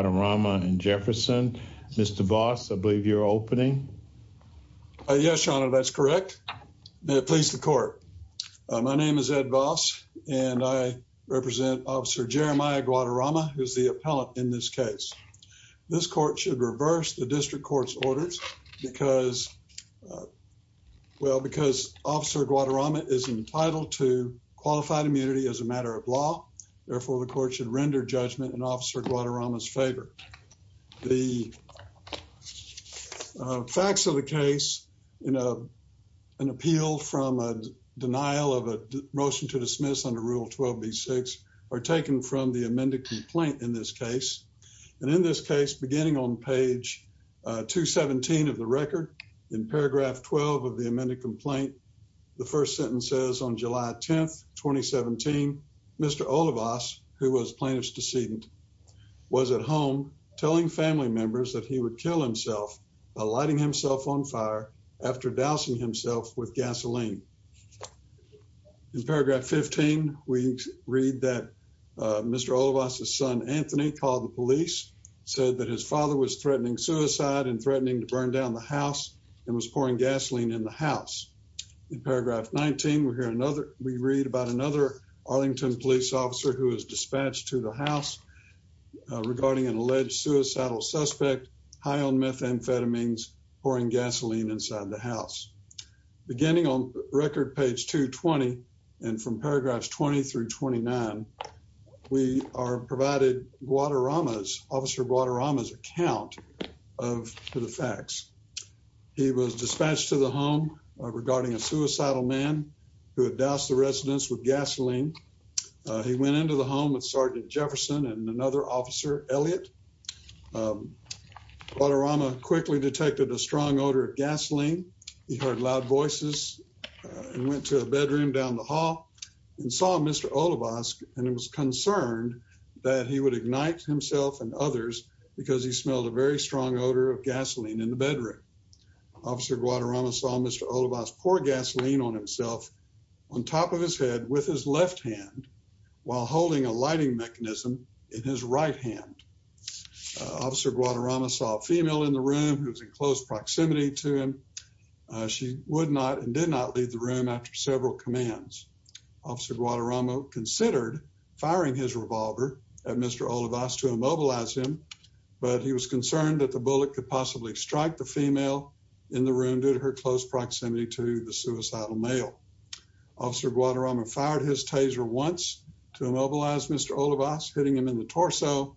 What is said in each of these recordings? Guadarrama and Jefferson. Mr. Boss, I believe you're opening. Yes, your honor, that's correct. May it please the court. My name is Ed boss, and I represent Officer Jeremiah Guadarrama, who's the appellant in this case. This court should reverse the district court's orders, because well, because Officer Guadarrama is entitled to qualified immunity as a matter of law. Therefore, the court should render judgment and Guadarrama's favor. The facts of the case, you know, an appeal from a denial of a motion to dismiss under Rule 12 B six are taken from the amended complaint in this case. And in this case, beginning on page 217 of the record, in paragraph 12 of the amended complaint, the first sentence says on July 10 2017, Mr. Olivas, who was plaintiff's decedent, was at home telling family members that he would kill himself lighting himself on fire after dousing himself with gasoline. In paragraph 15, we read that Mr. Olivas, his son, Anthony called the police said that his father was threatening suicide and threatening to burn down the house and was pouring gasoline in the house. In paragraph 19, we're here another we read about another Arlington police officer who was dispatched to the house regarding an alleged suicidal suspect high on methamphetamines, pouring gasoline inside the house, beginning on record page 220. And from paragraphs 20 through 29, we are provided Guadarrama's Officer Guadarrama's account of the facts. He was dispatched to the with gasoline. He went into the home with Sergeant Jefferson and another officer Elliot. Guadarrama quickly detected a strong odor of gasoline. He heard loud voices and went to a bedroom down the hall and saw Mr. Olivas and was concerned that he would ignite himself and others because he smelled a very strong odor of gasoline in the bedroom. Officer Guadarrama saw Mr. Olivas pour gasoline on himself on top of his head with his left hand while holding a lighting mechanism in his right hand. Officer Guadarrama saw a female in the room who was in close proximity to him. She would not and did not leave the room after several commands. Officer Guadarrama considered firing his revolver at Mr. Olivas to immobilize him, but he was concerned that the bullet could possibly strike the female in the room due to her close proximity to the suicidal male. Officer Guadarrama fired his taser once to immobilize Mr. Olivas, hitting him in the torso.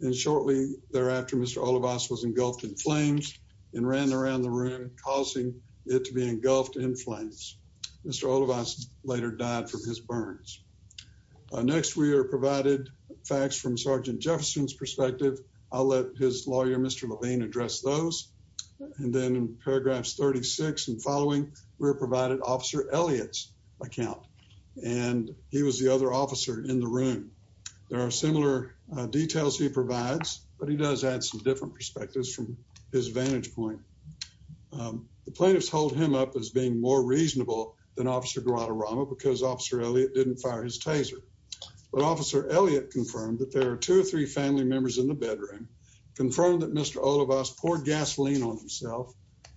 And shortly thereafter, Mr. Olivas was engulfed in flames and ran around the room causing it to be engulfed in flames. Mr. Olivas later died from his burns. Next, we are provided facts from Sergeant Jefferson's and then paragraphs 36 and following, we're provided Officer Elliott's account. And he was the other officer in the room. There are similar details he provides, but he does add some different perspectives from his vantage point. The plaintiffs hold him up as being more reasonable than Officer Guadarrama because Officer Elliott didn't fire his taser. But Officer Elliott confirmed that there are two or three family members in the bedroom, confirmed that Mr. Olivas poured gasoline on himself.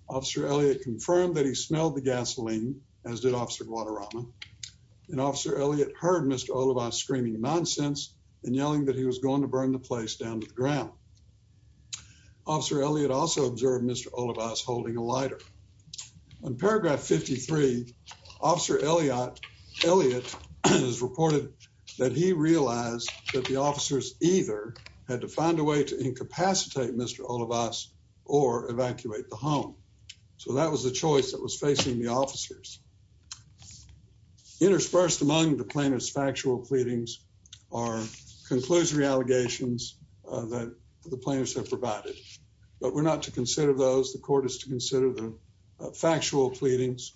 Officer Elliott confirmed that he smelled the gasoline, as did Officer Guadarrama. And Officer Elliott heard Mr. Olivas screaming nonsense and yelling that he was going to burn the place down to the ground. Officer Elliott also observed Mr. Olivas holding a lighter. On paragraph 53, Officer Elliott is reported that he realized that the officers either had to find a way to incapacitate Mr. Olivas or evacuate the home. So that was the choice that was facing the officers. Interspersed among the plaintiff's factual pleadings are conclusory allegations that the plaintiffs have provided. But we're not to consider those. The court is to consider the factual pleadings.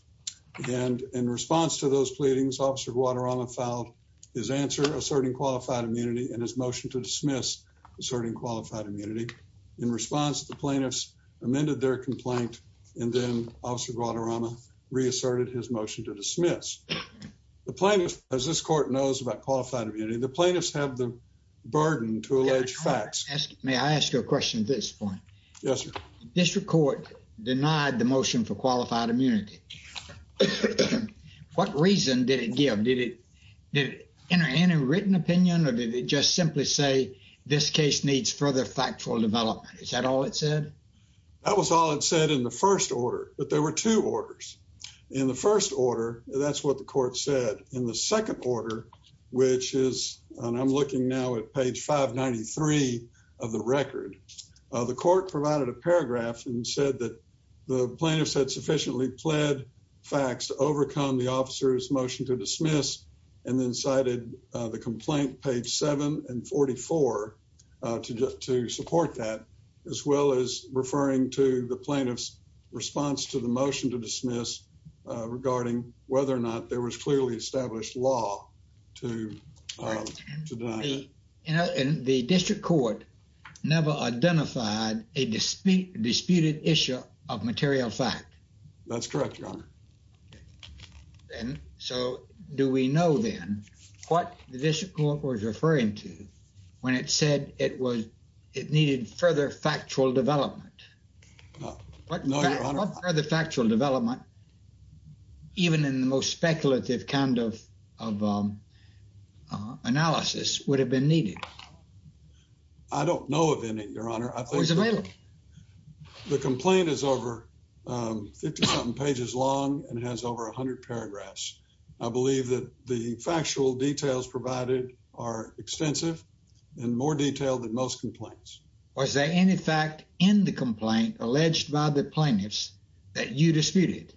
And in response to those pleadings, Officer Guadarrama filed his answer asserting qualified immunity and his motion to dismiss asserting qualified immunity. In response, the plaintiffs amended their complaint, and then Officer Guadarrama reasserted his motion to dismiss. The plaintiff, as this court knows about qualified immunity, the plaintiffs have the burden to allege facts. May I ask you a question at this point? Yes, sir. District Court denied the motion for qualified immunity. What reason did it give? Did it enter any written opinion? Or did it just simply say, this case needs further factual development? Is that all it said? That was all it said in the first order, but there were two orders. In the first order, that's what the court said. In the second order, which is, and I'm looking now at page 593 of the record, the court provided a paragraph and said that the plaintiffs had sufficiently pled facts to overcome the officer's complaint, page 7 and 44, to support that, as well as referring to the plaintiff's response to the motion to dismiss regarding whether or not there was clearly established law to deny it. And the district court never identified a disputed issue of material fact. That's correct, Your Honor. Okay. And so do we know then what the district court was referring to when it said it was, it needed further factual development? What further factual development, even in the most speculative kind of, of analysis would have been needed? I think the complaint is over 50 something pages long and has over 100 paragraphs. I believe that the factual details provided are extensive and more detailed than most complaints. Was there any fact in the complaint alleged by the plaintiffs that you disputed?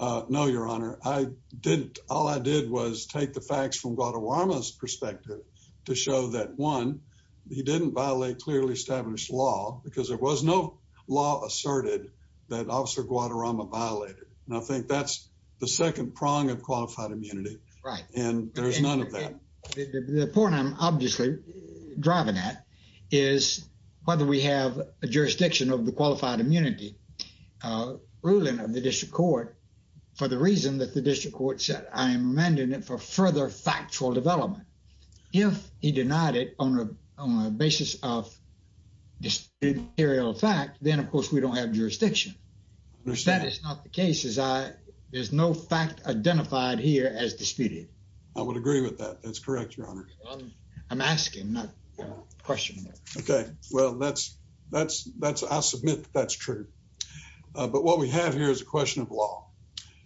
No, Your Honor. I didn't. All I did was take the facts from Guadaluama's perspective to show that one, he didn't violate clearly established law because there was no law asserted that Officer Guadaluama violated. And I think that's the second prong of qualified immunity. Right. And there's none of that. The point I'm obviously driving at is whether we have a jurisdiction of the qualified immunity ruling of the district court for the reason that the district court said, I am remanding it for further factual development. If he denied it on a basis of this material fact, then of course we don't have jurisdiction. That is not the case as I, there's no fact identified here as disputed. I would agree with that. That's correct, Your Honor. I'm asking, not questioning. Okay. Well, that's, that's, that's, I'll submit that's true. But what we have here is a question of law.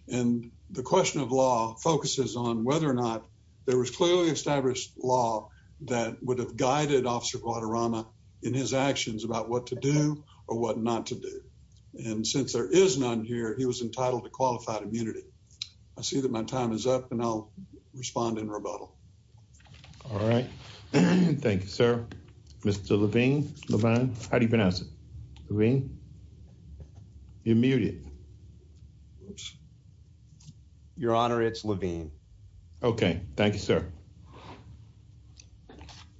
And the question of law focuses on whether or not there was clearly established law that would have guided Officer Guadaluama in his actions about what to do or what not to do. And since there is none here, he was entitled to qualified immunity. I see that my time is up and I'll respond in rebuttal. All right. Thank you, sir. Mr. Levine. Levine, how do you pronounce it? Levine? You're muted. Your Honor, it's Levine. Okay. Thank you, sir.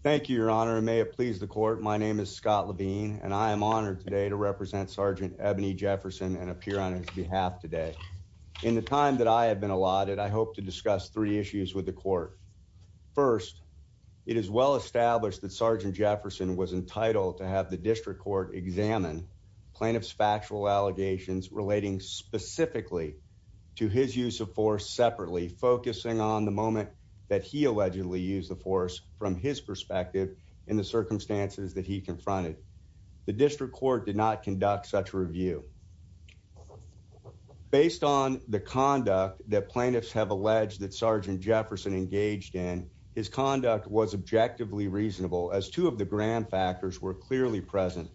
Thank you, Your Honor. May it please the court. My name is Scott Levine and I am honored today to represent Sergeant Ebony Jefferson and appear on his behalf today. In the time that I have been allotted, I hope to discuss three issues with the court. First, it is well established that Sergeant Jefferson was entitled to have the district court examine plaintiff's factual allegations relating specifically to his use of force separately, focusing on the moment that he allegedly used the force from his perspective in the circumstances that he confronted. The district court did not conduct such review. Based on the conduct that plaintiffs have alleged that Sergeant Jefferson engaged in, his conduct was objectively reasonable as two of the grand factors were clearly present.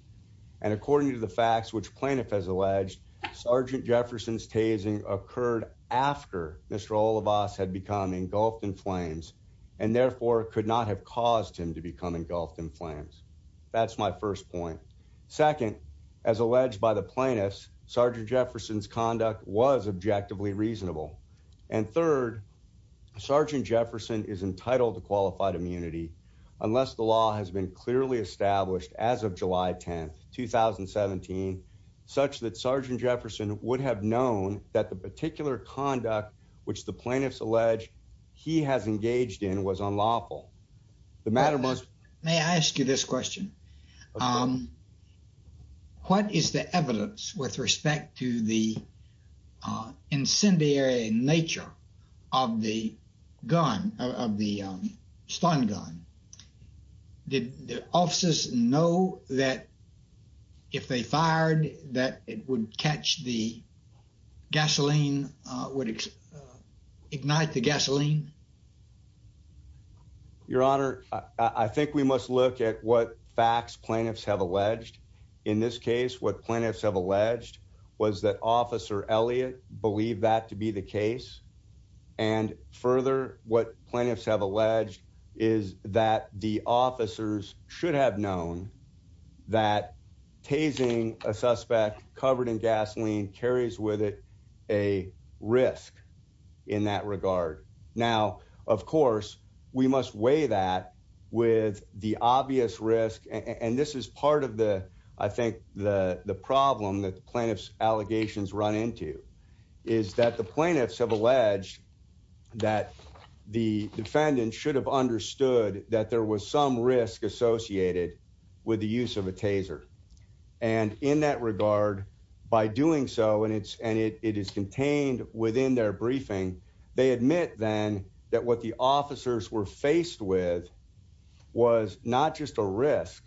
And according to the facts which plaintiff has alleged, Sergeant Jefferson's tasing occurred after Mr. Olivas had become engulfed in flames and therefore could not have caused him to become engulfed in flames. That's my first point. Second, as alleged by the plaintiffs, Sergeant Jefferson's conduct was objectively reasonable. And third, Sergeant Jefferson is entitled to qualified immunity unless the law has been clearly established as of July 10th, 2017, such that Sergeant Jefferson would have known that the particular conduct which the plaintiffs allege he has engaged in was unlawful. The matter was... May I ask you this question? What is the evidence with respect to the incendiary nature of the gun, of the stun gun? Did the officers know that if they fired that it would catch the gasoline, would ignite the gasoline? Your Honor, I think we must look at what facts plaintiffs have alleged. In this case, what plaintiffs have alleged was that Officer Elliott believed that to be the case. And further, what plaintiffs have alleged is that the officers should have known that tasing a suspect covered in gasoline carries with it a risk in that regard. Now, of course, we must weigh that with the obvious risk. And this is part of the, I think, the problem that plaintiffs' allegations run into, is that the plaintiffs have alleged that the defendant should have understood that there was some risk associated with the use of a taser. And in that regard, by doing so, and it is contained within their briefing, they admit then that what the officers were faced with was not just a risk,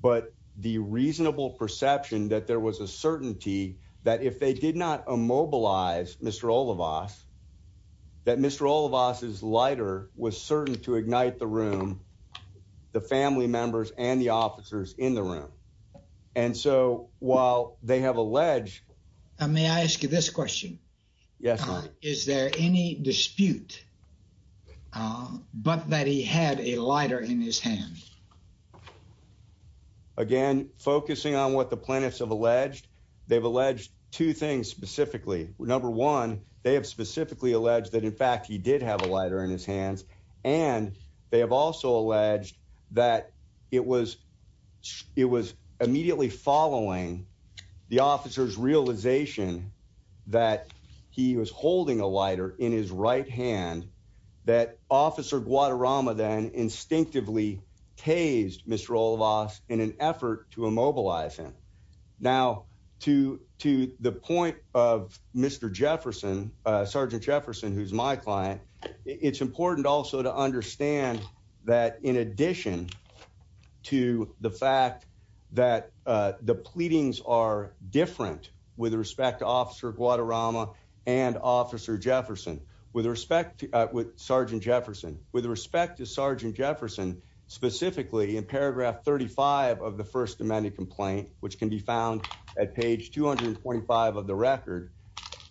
but the reasonable perception that there was a certainty that if they did not immobilize Mr. Olivas, that Mr. Olivas' lighter was certain to ignite the room, the family members and the officers in the room. And so while they have alleged... May I ask you this question? Yes, Your Honor. Is there any dispute, but that he had a lighter in his hand? Again, focusing on what the plaintiffs have alleged, they've alleged two things specifically. Number one, they have specifically alleged that in fact, he did have a lighter in his hands. And they have also alleged that it was immediately following the officer's realization that he was holding a lighter in his right hand, that Officer Guadarrama then instinctively tased Mr. Olivas in an effort to immobilize him. Now, to the point of Mr. Jefferson, Sergeant Jefferson, who's my client, it's important also to understand that in addition to the fact that the pleadings are different with respect to Officer Guadarrama and Officer Jefferson, with respect to Sergeant Jefferson, with respect to Sergeant Jefferson, specifically in paragraph 35 of the First Amendment complaint, which can be found at page 225 of the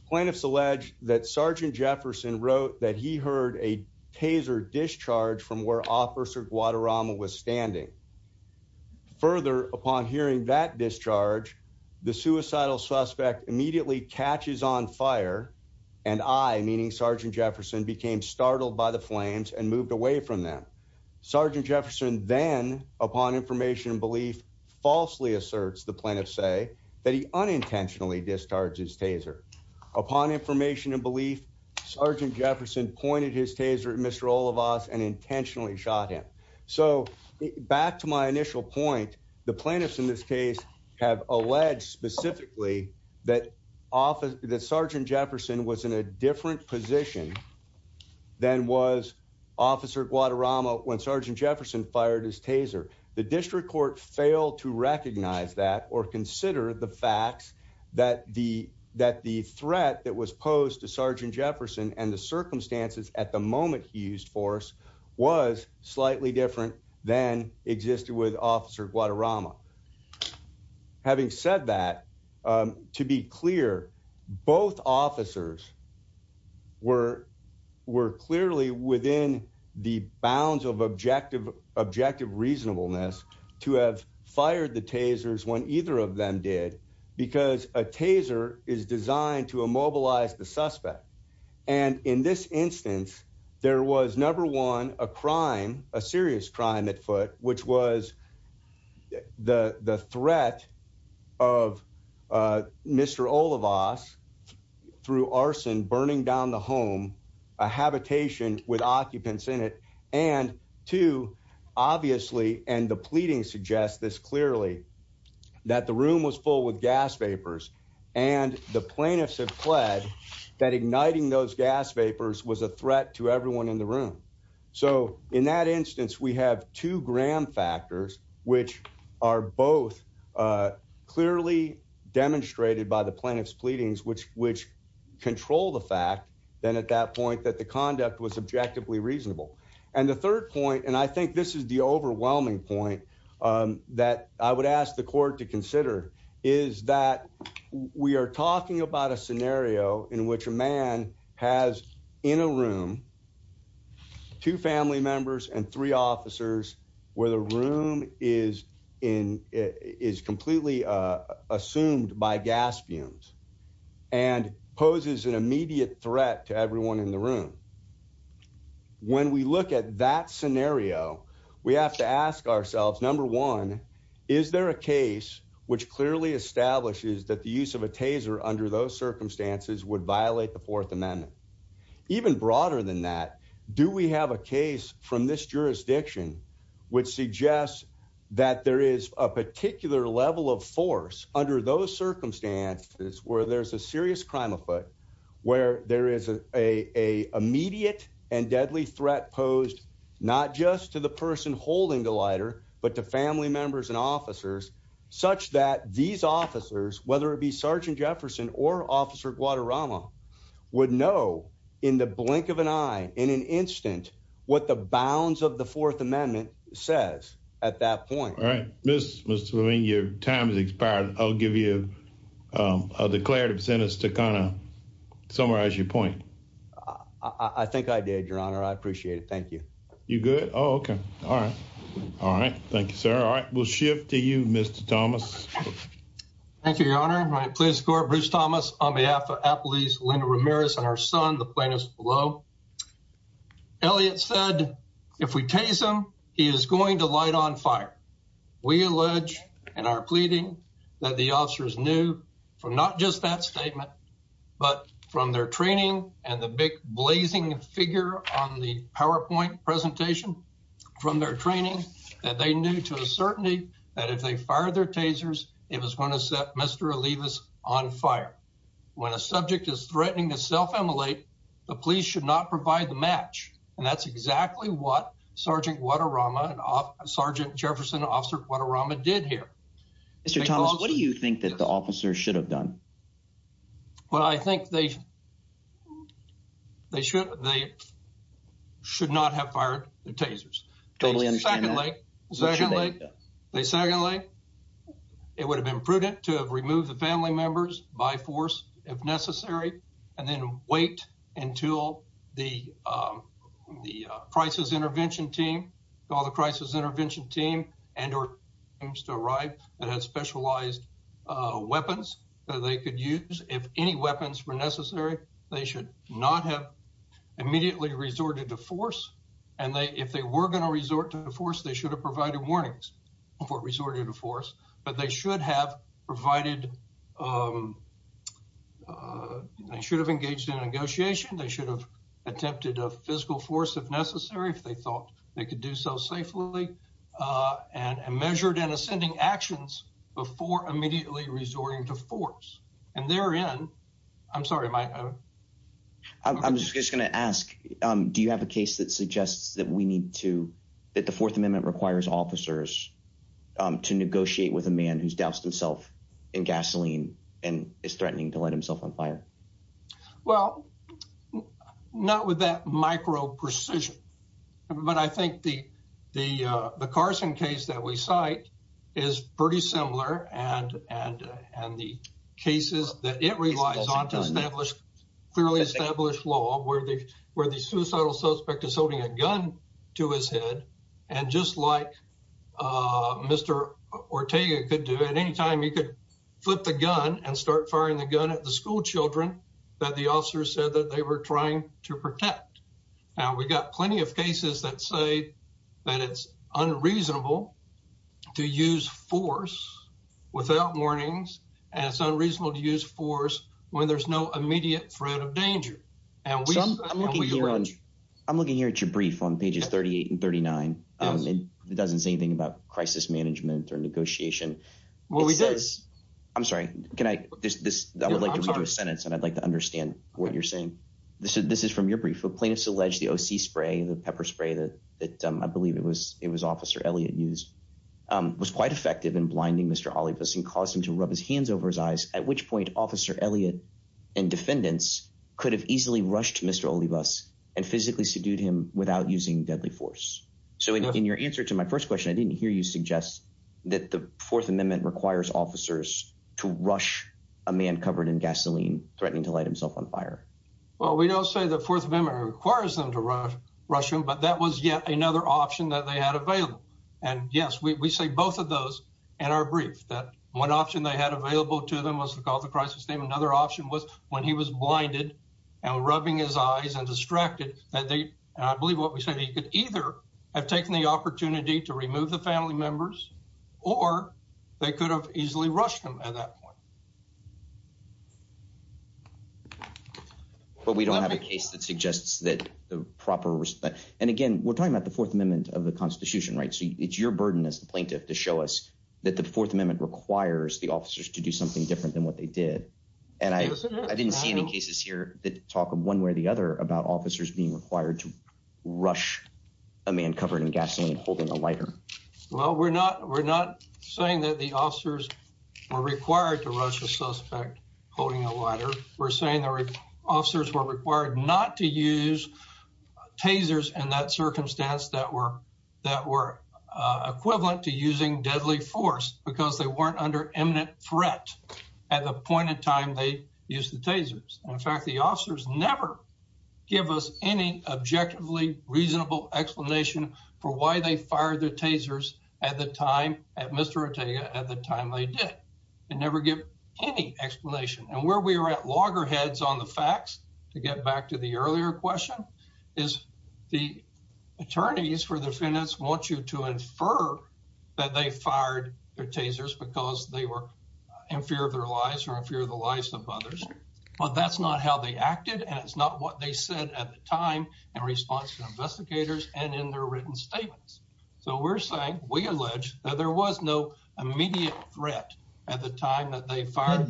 complaint, Sergeant Jefferson wrote that he heard a taser discharge from where Officer Guadarrama was standing. Further, upon hearing that discharge, the suicidal suspect immediately catches on fire, and I, meaning Sergeant Jefferson, became startled by the flames and moved away from them. Sergeant Jefferson then, upon information and belief, falsely asserts the plaintiff's say that he unintentionally discharged his taser, and Sergeant Jefferson pointed his taser at Mr. Olivas and intentionally shot him. So, back to my initial point, the plaintiffs in this case have alleged specifically that Sergeant Jefferson was in a different position than was Officer Guadarrama when Sergeant Jefferson fired his taser. The District Court failed to recognize that or consider the threat that was posed to Sergeant Jefferson and the circumstances at the moment he used force was slightly different than existed with Officer Guadarrama. Having said that, to be clear, both officers were clearly within the bounds of objective reasonableness to have fired the tasers when to immobilize the suspect. And in this instance, there was number one, a crime, a serious crime at foot, which was the threat of Mr. Olivas through arson burning down the home, a habitation with occupants in it, and two, obviously, and the pleading suggests this clearly, that the room was full with gas vapors, and the plaintiffs have pled that igniting those gas vapors was a threat to everyone in the room. So, in that instance, we have two Graham factors, which are both clearly demonstrated by the plaintiff's pleadings, which control the fact then at that point that the conduct was objectively reasonable. And the third point, and I think this is the overwhelming point that I would ask the court to consider, is that we are talking about a scenario in which a man has in a room, two family members and three officers, where the room is completely assumed by gas fumes, and poses an immediate threat to everyone in the room. When we look at that scenario, we have to ask ourselves, number one, is there a case which clearly establishes that the use of a taser under those circumstances would violate the Fourth Amendment? Even broader than that, do we have a case from this jurisdiction, which suggests that there is a particular level of force under those circumstances, where there's a serious crime afoot, where there is a immediate and deadly threat posed, not just to the person holding the lighter, but to family members and these officers, whether it be Sergeant Jefferson or Officer Guadarrama, would know in the blink of an eye in an instant, what the bounds of the Fourth Amendment says at that point. All right, Mr. Levine, your time has expired. I'll give you a declarative sentence to kind of summarize your point. I think I did, Your Honor. I appreciate it. Thank you. You good? Oh, okay. All right. All right. Thank you, sir. All right. Thank you, Your Honor. Please escort Bruce Thomas on behalf of Applebee's Linda Ramirez and her son, the plaintiffs below. Elliot said, if we tase him, he is going to light on fire. We allege and are pleading that the officers knew from not just that statement, but from their training and the big blazing figure on the PowerPoint presentation from their training that they knew to a certainty that if they fired their tasers, it was going to set Mr. Olivas on fire. When a subject is threatening to self immolate, the police should not provide the match. And that's exactly what Sergeant Guadarrama and Sergeant Jefferson, Officer Guadarrama did here. Mr. Thomas, what do you think that the officers should have done? Well, I think they should not have fired the tasers. Totally understand that. Secondly, it would have been prudent to have removed the family members by force if necessary, and then wait until the the crisis intervention team, all the crisis intervention team and or teams to arrive that had specialized weapons that they could use. If any weapons were necessary, they should not have immediately resorted to force. And they if they were going to resort to force, they should have provided warnings before resorting to force, but they should have provided, they should have engaged in negotiation, they should have attempted a physical force if necessary, if they thought they could do so safely, and measured and ascending actions before immediately resorting to force. And therein, I'm sorry, I'm just going to ask, do you have a case that suggests that we need to, that the Fourth Amendment requires officers to negotiate with a man who's doused himself in gasoline, and is threatening to light himself on fire? Well, not with that micro precision. But I think the Carson case that we cite is pretty similar. And the cases that it relies on to establish clearly established law where where the suicidal suspect is holding a gun to his head. And just like Mr. Ortega could do at any time, he could flip the gun and start firing the gun at the schoolchildren that the officers said that they were trying to protect. Now we got plenty of cases that say that it's unreasonable to use force without warnings. And it's unreasonable to use force when there's no immediate threat of danger. I'm looking here at your brief on pages 38 and 39. It doesn't say anything about crisis management or negotiation. What we did, I'm sorry, can I just this, I would like to do a sentence and I'd like to understand what you're saying. This is this is from your brief of plaintiffs allege the OC spray, the pepper spray that that I believe it was it was officer Elliott used, was quite effective in blinding Mr. Hollifuss and causing to rub his hands over his eyes, at which point officer Elliott and defendants could have easily rushed Mr. Hollifuss and physically subdued him without using deadly force. So in your answer to my first question, I didn't hear you suggest that the Fourth Amendment requires officers to rush a man covered in gasoline threatening to light himself on fire. Well, we don't say the Fourth Amendment requires them to rush rush him. But that was yet another option that they had available. And yes, we say both of those in our brief that one option they had available to them was to call the crisis name. Another option was when he was blinded, and rubbing his eyes and distracted that they believe what we said he could either have taken the opportunity to remove the family members, or they could have easily rushed him at that point. But we don't have a case that suggests that the proper respect. And again, we're talking about the Fourth Amendment of the Constitution, right? So it's your burden as plaintiff to show us that the Fourth Amendment requires the officers to do something different than what they did. And I didn't see any cases here that talk one way or the other about officers being required to rush a man covered in gasoline holding a lighter. Well, we're not we're not saying that the officers are required to rush a suspect holding a lighter. We're saying that officers were required not to use tasers in that circumstance that were that were equivalent to using deadly force because they weren't under imminent threat at the point in time they use the tasers. In fact, the officers never give us any objectively reasonable explanation for why they fired the tasers at the time at Mr. Ortega at the time they did, and never give any explanation. And where we are at loggerheads on the facts, to get back to the earlier question, is the attorneys for the defendants want you to infer that they fired the tasers because they were in fear of their lives or in fear of the lives of others. But that's not how they acted. And it's not what they said at the time, in response to investigators and in their written statements. So we're saying we allege that there was no immediate threat at the time that they fired.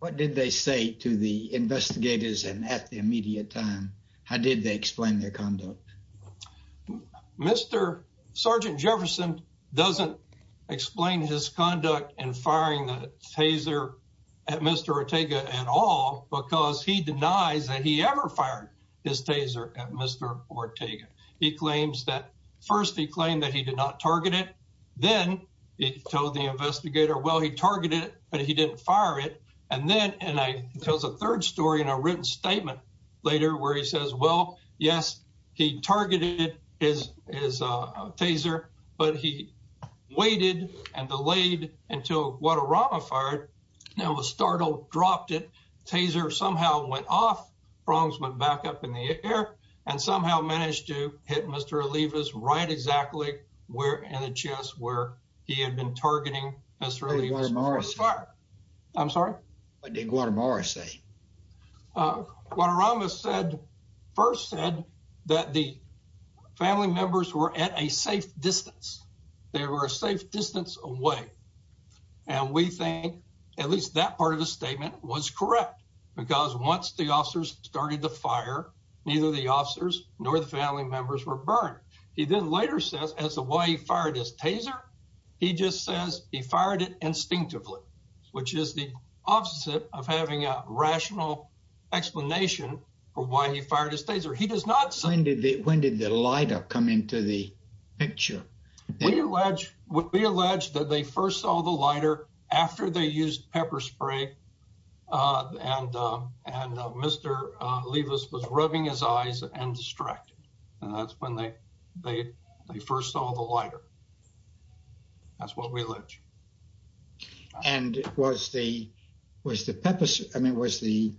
What did they say to the investigators and at the immediate time? How did they explain their conduct? Mr. Sergeant Jefferson doesn't explain his conduct and firing the taser at Mr. Ortega at all, because he denies that he ever fired his taser at Mr. Ortega. He claims that first he claimed that he did not target it. Then he told the investigator, well, he targeted it, but he didn't fire it. And then, and I tells a third story in a written statement later where he says, well, yes, he targeted his taser, but he waited and delayed until Guadarrama fired, and was startled, dropped it, taser somehow went off, prongs went back up in the air, and somehow managed to hit Mr. Olivas right exactly where, in the chest where he had been targeting Mr. Olivas before his fire. I'm sorry? What did Guadarrama say? Guadarrama said, first said that the family members were at a safe distance. They were a safe distance away. And we think at least that part of the statement was correct. Because once the officers started the fire, neither the officers nor the family members were burned. He then later says as the way he fired his taser, he just says he fired it instinctively, which is the opposite of having a rational explanation for why he fired his taser. He does not say... When did the when did the lighter come into the picture? We allege that they first saw the lighter after they used pepper spray. And, and Mr. Olivas was rubbing his eyes and distracted. And that's when they, they, they first saw the lighter. That's what we allege. And was the, was the pepper spray, I mean, was the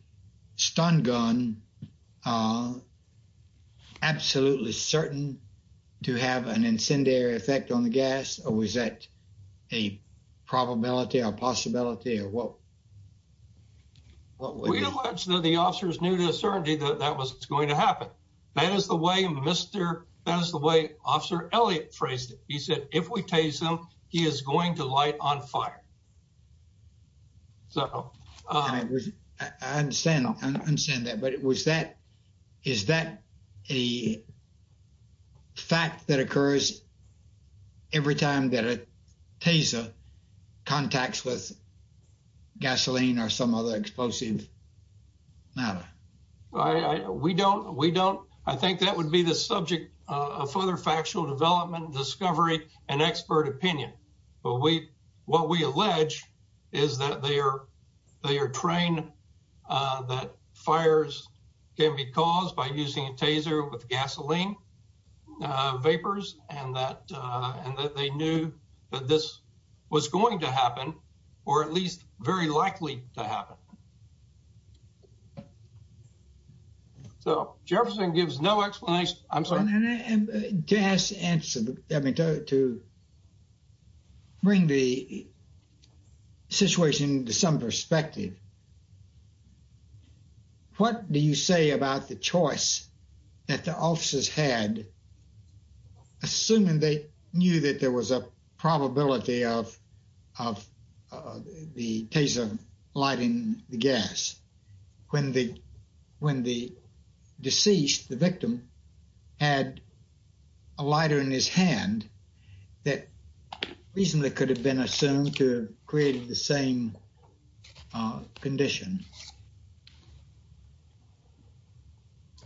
stun gun absolutely certain to have an incendiary effect on the gas? Or was that a probability or possibility or what? We allege that the officers knew to a certainty that that was going to happen. That is the way Mr. That is the way Officer Elliot phrased it. He said, if we tase him, he is going to light on fire. So I understand that. But it was that, is that a fact that occurs every time that a taser contacts with gasoline or some other explosive matter? I, we don't, we don't, I think that would be the subject of further factual development, discovery, and expert opinion. But we, what we allege is that they are, they are trained that fires can be caused by using a taser with gasoline vapors and that, and that they knew that this was going to happen, or at least very likely to happen. So Jefferson gives no explanation, I'm sorry. To ask, to bring the situation to some perspective, what do you say about the choice that the officers had, assuming they knew that there was a probability of, of the taser lighting the gas, when the, when the deceased, the victim, had a lighter in his hand, that reasonably could have been assumed to create the same condition?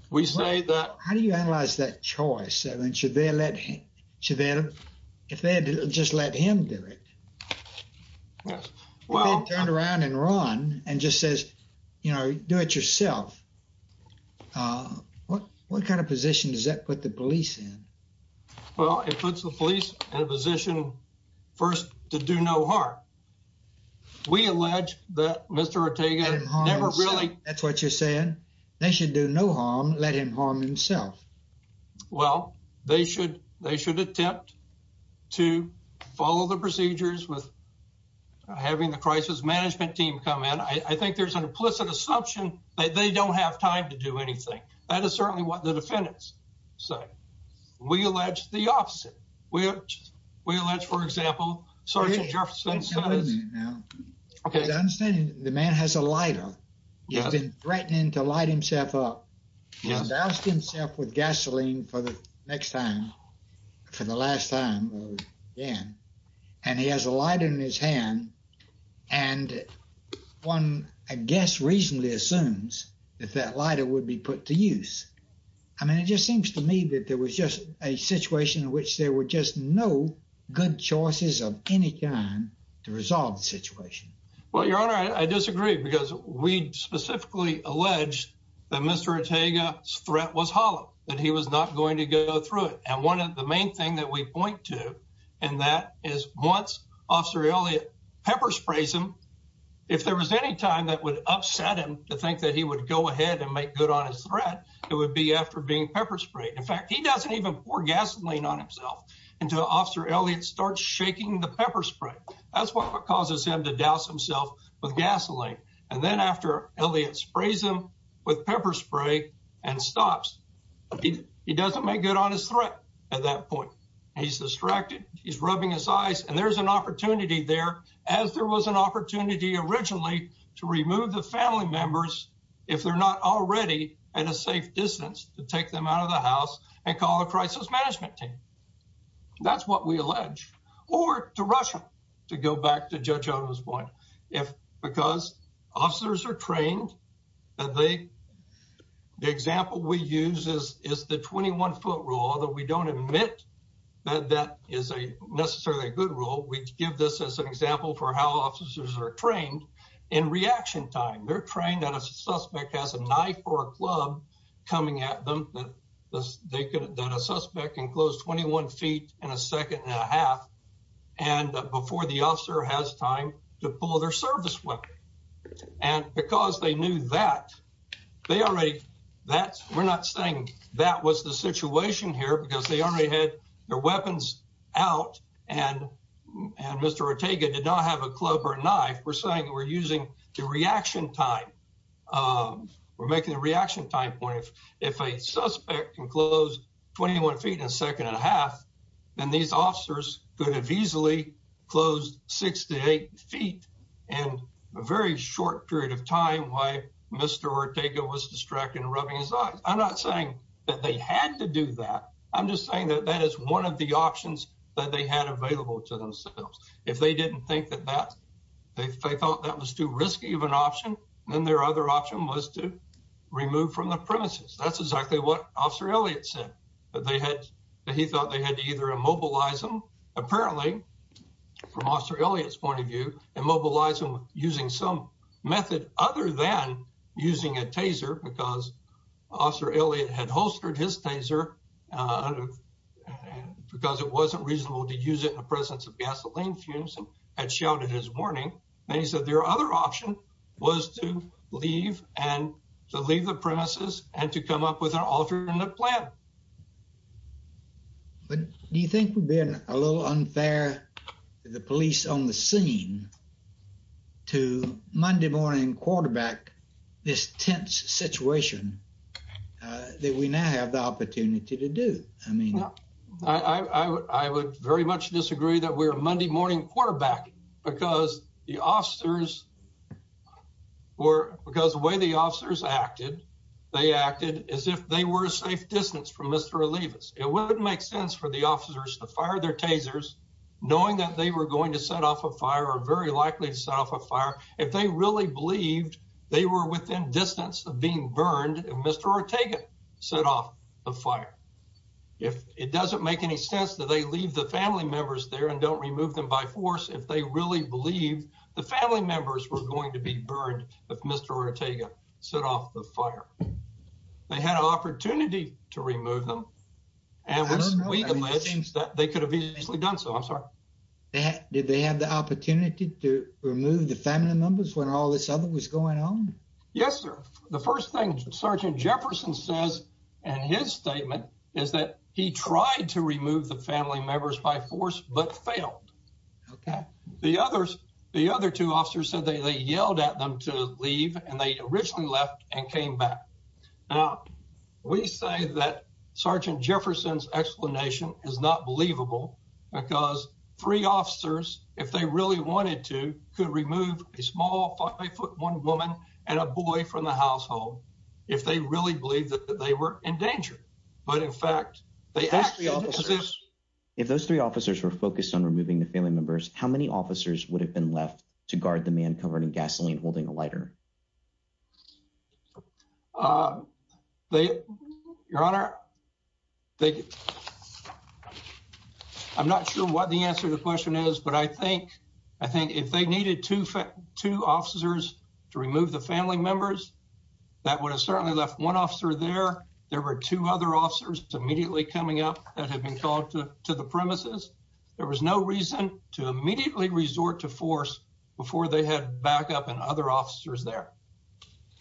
We say that How do you analyze that choice? I mean, should they let him, should they, if they just let him do it? Yes. Well, Turned around and run and just says, you know, do it yourself. What, what kind of position does that put the police in? Well, it puts the police in a position first to do no harm. We allege that Mr. Ortega never really That's what you're saying. They should do no harm, let him harm himself. Well, they should, they should attempt to follow the procedures with having the crisis management team come in. I think there's an implicit assumption that they don't have time to do anything. That is certainly what the defendants say. We allege the opposite. We, we allege, for example, Sergeant Jefferson says Okay. The understanding, the man has a lighter. He's been threatening to light himself up. He's doused himself with gasoline for the next time, for the last time again. And he has a lighter in his hand. And one, I guess, reasonably assumes that that lighter would be put to use. I mean, it just seems to me that there was just a situation in which there were just no good choices of any kind to resolve the situation. Well, Your Honor, I disagree, because we specifically allege that Mr. Ortega's threat was hollow, that he was not going to go through it. And one of the main thing that we point to, and that is once Officer Elliott pepper sprays him, if there was any time that would upset him to think that he would go ahead and make good on his threat, it would be after being pepper sprayed. In fact, he doesn't even pour gasoline on himself until Officer Elliott starts shaking the pepper spray. That's what causes him to douse himself with gasoline. And then after Elliott sprays him with pepper spray, and stops, he doesn't make good on his threat. At that point, he's distracted. He's rubbing his eyes. And there's an opportunity there, as there was an opportunity originally, to remove the family members, if they're not already at a safe distance to take them out of the house and call a crisis management team. That's what we allege, or to Russia, to go back to Judge Odom's point. If because officers are trained, and they, the example we use is the 21 foot rule, that we don't admit that that is a necessarily a good rule. We give this as an example for how officers are trained in reaction time, they're trained that a suspect has a knife or a club coming at them, that a suspect can close 21 feet in a second and a half. And before the officer has time to pull their service weapon. And because they knew that, they that was the situation here, because they already had their weapons out. And, and Mr. Ortega did not have a club or a knife, we're saying we're using the reaction time. We're making the reaction time point, if, if a suspect can close 21 feet in a second and a half, then these officers could have easily closed six to eight feet, and a very short period of time why Mr. Ortega was distracted and rubbing his eyes. I'm not saying that they had to do that. I'm just saying that that is one of the options that they had available to themselves. If they didn't think that that they thought that was too risky of an option, then their other option was to remove from the premises. That's exactly what Officer Elliott said, that they had, he thought they had to either immobilize them, apparently, from Officer Elliott's point of view, and mobilize them using some method other than using a taser because Officer Elliott had holstered his taser, because it wasn't reasonable to use it in the presence of gasoline fumes and shouted his warning. And he said their other option was to leave and to leave the premises and to come up with an alternate plan. But do you think would be a little unfair to the police on the scene to Monday morning quarterback, this tense situation that we now have the opportunity to do? I mean, I would very much disagree that we're Monday morning quarterback, because the officers were because the way the officers acted, they acted as if they were a safe distance from Mr. Olivas. It wouldn't make sense for the officers to fire their tasers, knowing that they were going to set off a fire are very likely to set off a fire if they really believed they were within distance of being burned. And Mr. Ortega set off the fire. If it doesn't make any sense that they leave the family members there and don't remove them by force, if they really believe the family members were going to be burned with Mr. Ortega set off the fire. They had an opportunity to remove them. And it seems that they could have easily done so I'm sorry. That did they have the opportunity to remove the family members when all this other was going on? Yes, sir. The first thing Sergeant Jefferson says, and his statement is that he tried to remove the family members by force but failed. Okay, the others, the other two officers said they yelled at them to leave and they originally left and came back. Now, we say that Sergeant Jefferson's explanation is not believable. Because three officers, if they really wanted to, could remove a small five foot one woman and a boy from the household, if they really believe that they were in danger. But in fact, they asked if those three officers were focused on removing the family members, how many officers would have been left to guard the man covering gasoline holding a lighter? They, Your Honor, they I'm not sure what the answer to the question is. But I think I think if they needed to fit two officers to remove the family members, that would have certainly left one officer there. There were two other officers immediately coming up that had been called to the premises. There was no reason to immediately resort to force before they had backup and other officers there.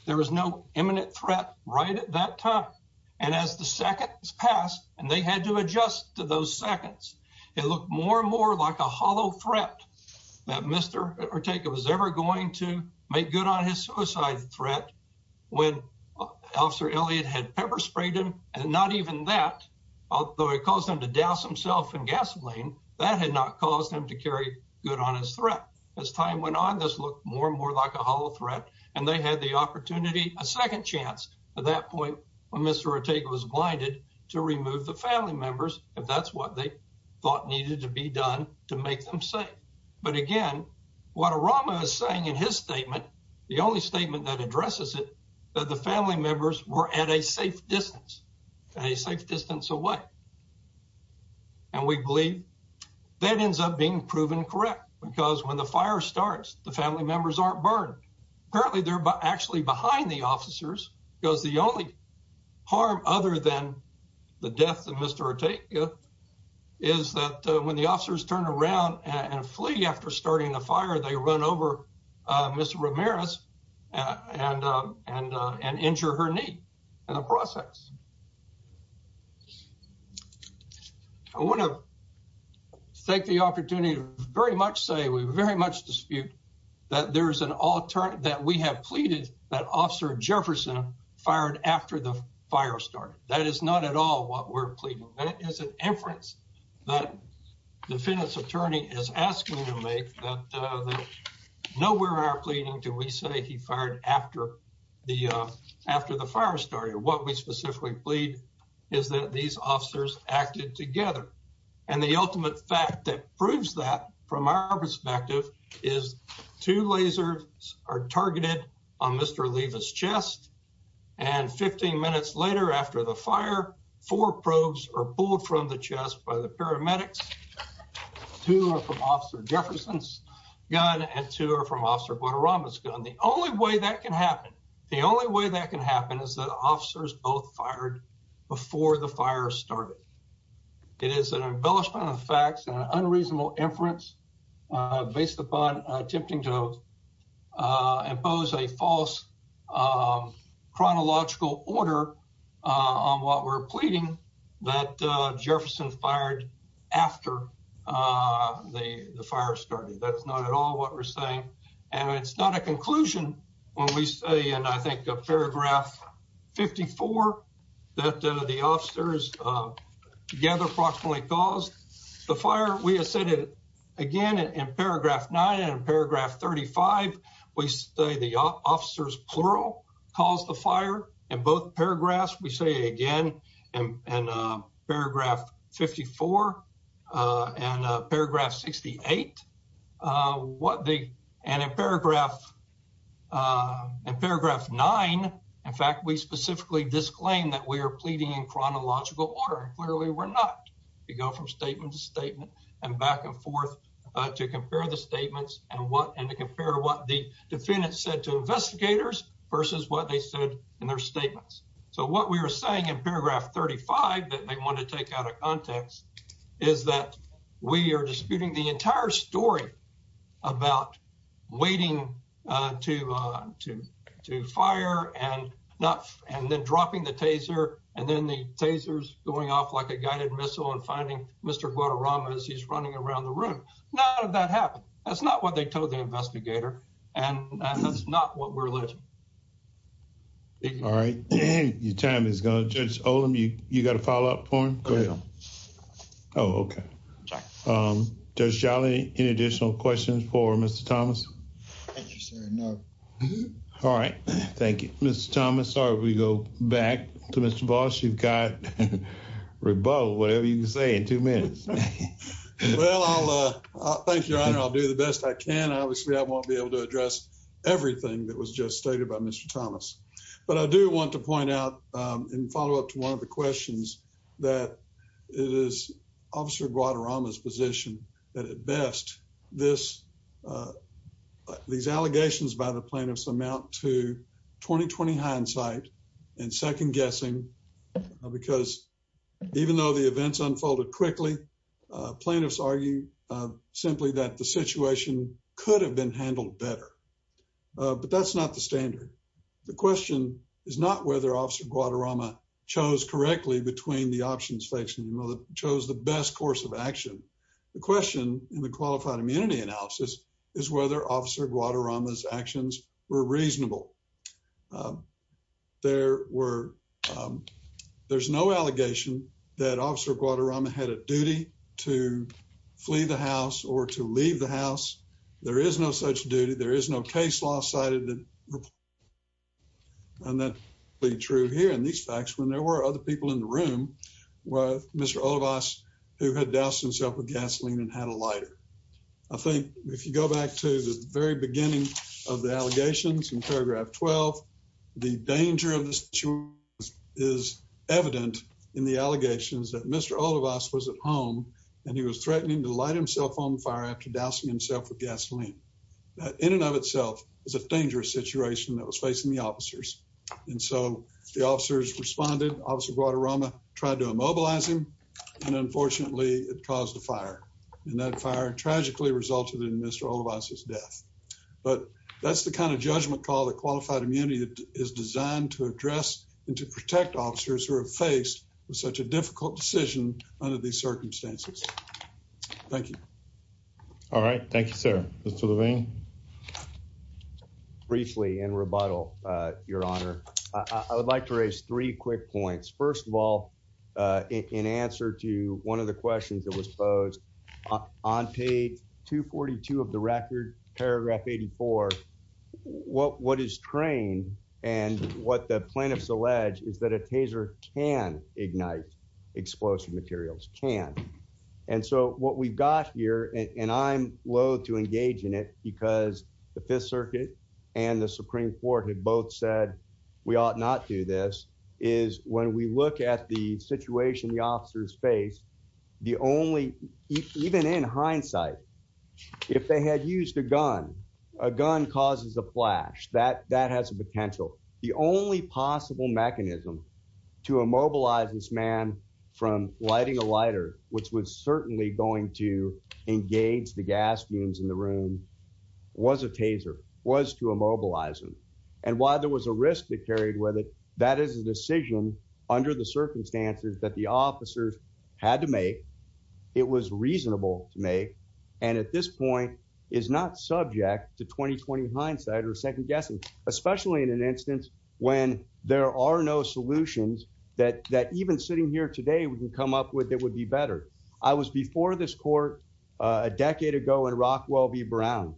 There was no imminent threat right at that time. And as the seconds passed, and they had to adjust to those seconds, it looked more and more like a hollow threat that Mr. Ortega was ever going to make good on his suicide threat, when Officer Elliott had pepper sprayed him and not even that, although it caused him to douse himself in gasoline, that had not caused him to carry good on his threat. As time went on, this looked more and more like a hollow threat. And they had the Mr. Ortega was blinded to remove the family members, if that's what they thought needed to be done to make them safe. But again, what a Rama is saying in his statement, the only statement that addresses it, that the family members were at a safe distance, a safe distance away. And we believe that ends up being proven correct. Because when the fire starts, the family members aren't burned. Apparently, they're actually behind the officers, because the only harm other than the death of Mr. Ortega, is that when the officers turn around and flee after starting the fire, they run over Mr. Ramirez and injure her knee in the process. I want to take the opportunity to very much say, we very much dispute that there's that we have pleaded that Officer Jefferson fired after the fire started. That is not at all what we're pleading. That is an inference that the defendant's attorney is asking to make that nowhere in our pleading do we say he fired after the fire started. What we specifically plead is that these officers acted together. And the ultimate fact that proves that from our perspective is two lasers are targeted on Mr. Levi's chest. And 15 minutes later after the fire, four probes are pulled from the chest by the paramedics. Two are from Officer Jefferson's gun and two are from Officer Guadarrama's gun. The only way that can happen, the only way that can happen is that officers both fired before the fire started. It is an embellishment of facts and unreasonable inference based upon attempting to impose a false chronological order on what we're pleading that Jefferson fired after the fire started. That's not at all what we're saying. And it's not a conclusion. When we say and I think of paragraph 54, that the officers together approximately caused the fire, we have said it again in paragraph nine and paragraph 35. We say the officers plural caused the fire and both paragraphs we say again and paragraph 54 and paragraph 68. And in paragraph nine, in fact, we specifically disclaim that we are pleading in chronological order. Clearly, we're not. We go from statement to statement and back and forth to compare the statements and what and to compare what the defendant said to investigators versus what they said in their statements. So what we were saying in paragraph 35 that they want to take out of context is that we are disputing the entire story about waiting to fire and not and then dropping the taser and then the tasers going off like a guided missile and finding Mr. Guadarrama as he's running around the room. None of that happened. That's not what they told the investigator. And that's not what we're looking. All right, your time is gone. Judge Olem, you got a follow up for him? Oh, okay. Judge Jolly, any additional questions for Mr. Thomas? Thank you, sir. No. All right. Thank you, Mr. Thomas. Sorry, we go back to Mr. Voss. You've got rebuttal, whatever you can say in two minutes. Well, I'll thank your honor. I'll do the best I can. Obviously, I won't be able to address everything that was just stated by Mr. Thomas. But I do want to point out in follow up to one of the questions that it is Officer Guadarrama's position that at these allegations by the plaintiffs amount to 20-20 hindsight and second guessing, because even though the events unfolded quickly, plaintiffs argue simply that the situation could have been handled better. But that's not the standard. The question is not whether Officer Guadarrama chose correctly The question in the qualified immunity analysis is whether Officer Guadarrama's actions were reasonable. There's no allegation that Officer Guadarrama had a duty to flee the house or to leave the house. There is no such duty. There is no case law cited. And that is true here in these facts when there were other people in the room with Mr. Olivas, who had doused himself with gasoline and had a lighter. I think if you go back to the very beginning of the allegations in paragraph 12, the danger of this is evident in the allegations that Mr. Olivas was at home, and he was threatening to light himself on fire after dousing himself with gasoline. That in and of itself is a dangerous situation that was facing the officers. And so the officers responded, Officer Guadarrama tried to immobilize him. And unfortunately, it caused a fire. And that fire tragically resulted in Mr. Olivas' death. But that's the kind of judgment call that qualified immunity is designed to address and to protect officers who are faced with such a difficult decision under these circumstances. Thank you. All right. Thank you, sir. Mr. Levine. Briefly in rebuttal, Your Honor, I would like to raise three quick points. First of all, in answer to one of the questions that was posed on page 242 of the record, paragraph 84, what is trained and what the plaintiffs allege is that a taser can ignite explosive materials, can. And so what we've got here, and I'm loathe to engage in it, because the Fifth Circuit and the Supreme Court had both said, we ought not do this, is when we look at the situation the officers face, the only, even in hindsight, if they had used a gun, a gun causes a flash, that has a potential. The only possible mechanism to immobilize this man from lighting a lighter, which was certainly going to engage the gas fumes in the room, was a taser, was to immobilize him. And while there was a risk that carried with it, that is a decision under the circumstances that the officers had to make, it was reasonable to make, and at this point, is not subject to 20-20 hindsight or second guessing, especially in an instance when there are no solutions that even sitting here today we can come up with that would be better. I was before this court a decade ago in Rockwell v. Brown,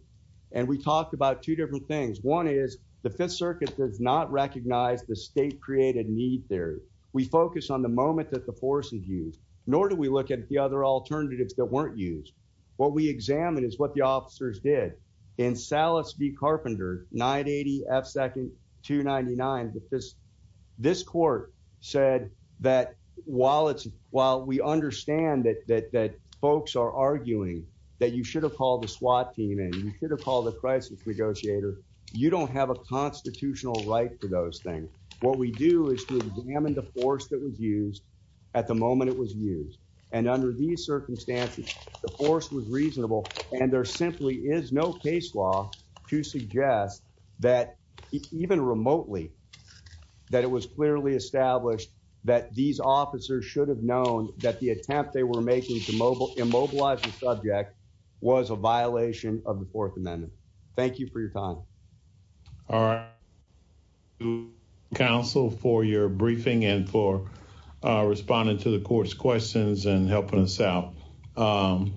and we talked about two different things. One is the Fifth Circuit does not recognize the state-created need there. We focus on the moment that the force is used, nor do we look at the other alternatives that weren't used. What we examined is what the officers did. In Salas v. Carpenter, 980 F. 2nd, 299, this court said that while we understand that folks are arguing that you should have called the SWAT team in, you should have called the crisis negotiator, you don't have a constitutional right for those things. What we do is to examine the force that was used at the moment it was used. And under these circumstances, the force was reasonable, and there simply is no case law to suggest that, even remotely, that it was clearly established that these officers should have known that the attempt they were making to immobilize the subject was a misdemeanor. Thank you for your time. All right, counsel for your briefing and for responding to the court's questions and helping us out.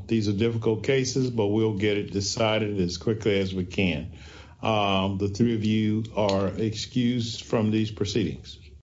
These are difficult cases, but we'll get it decided as quickly as we can. The three of you are excused from these proceedings.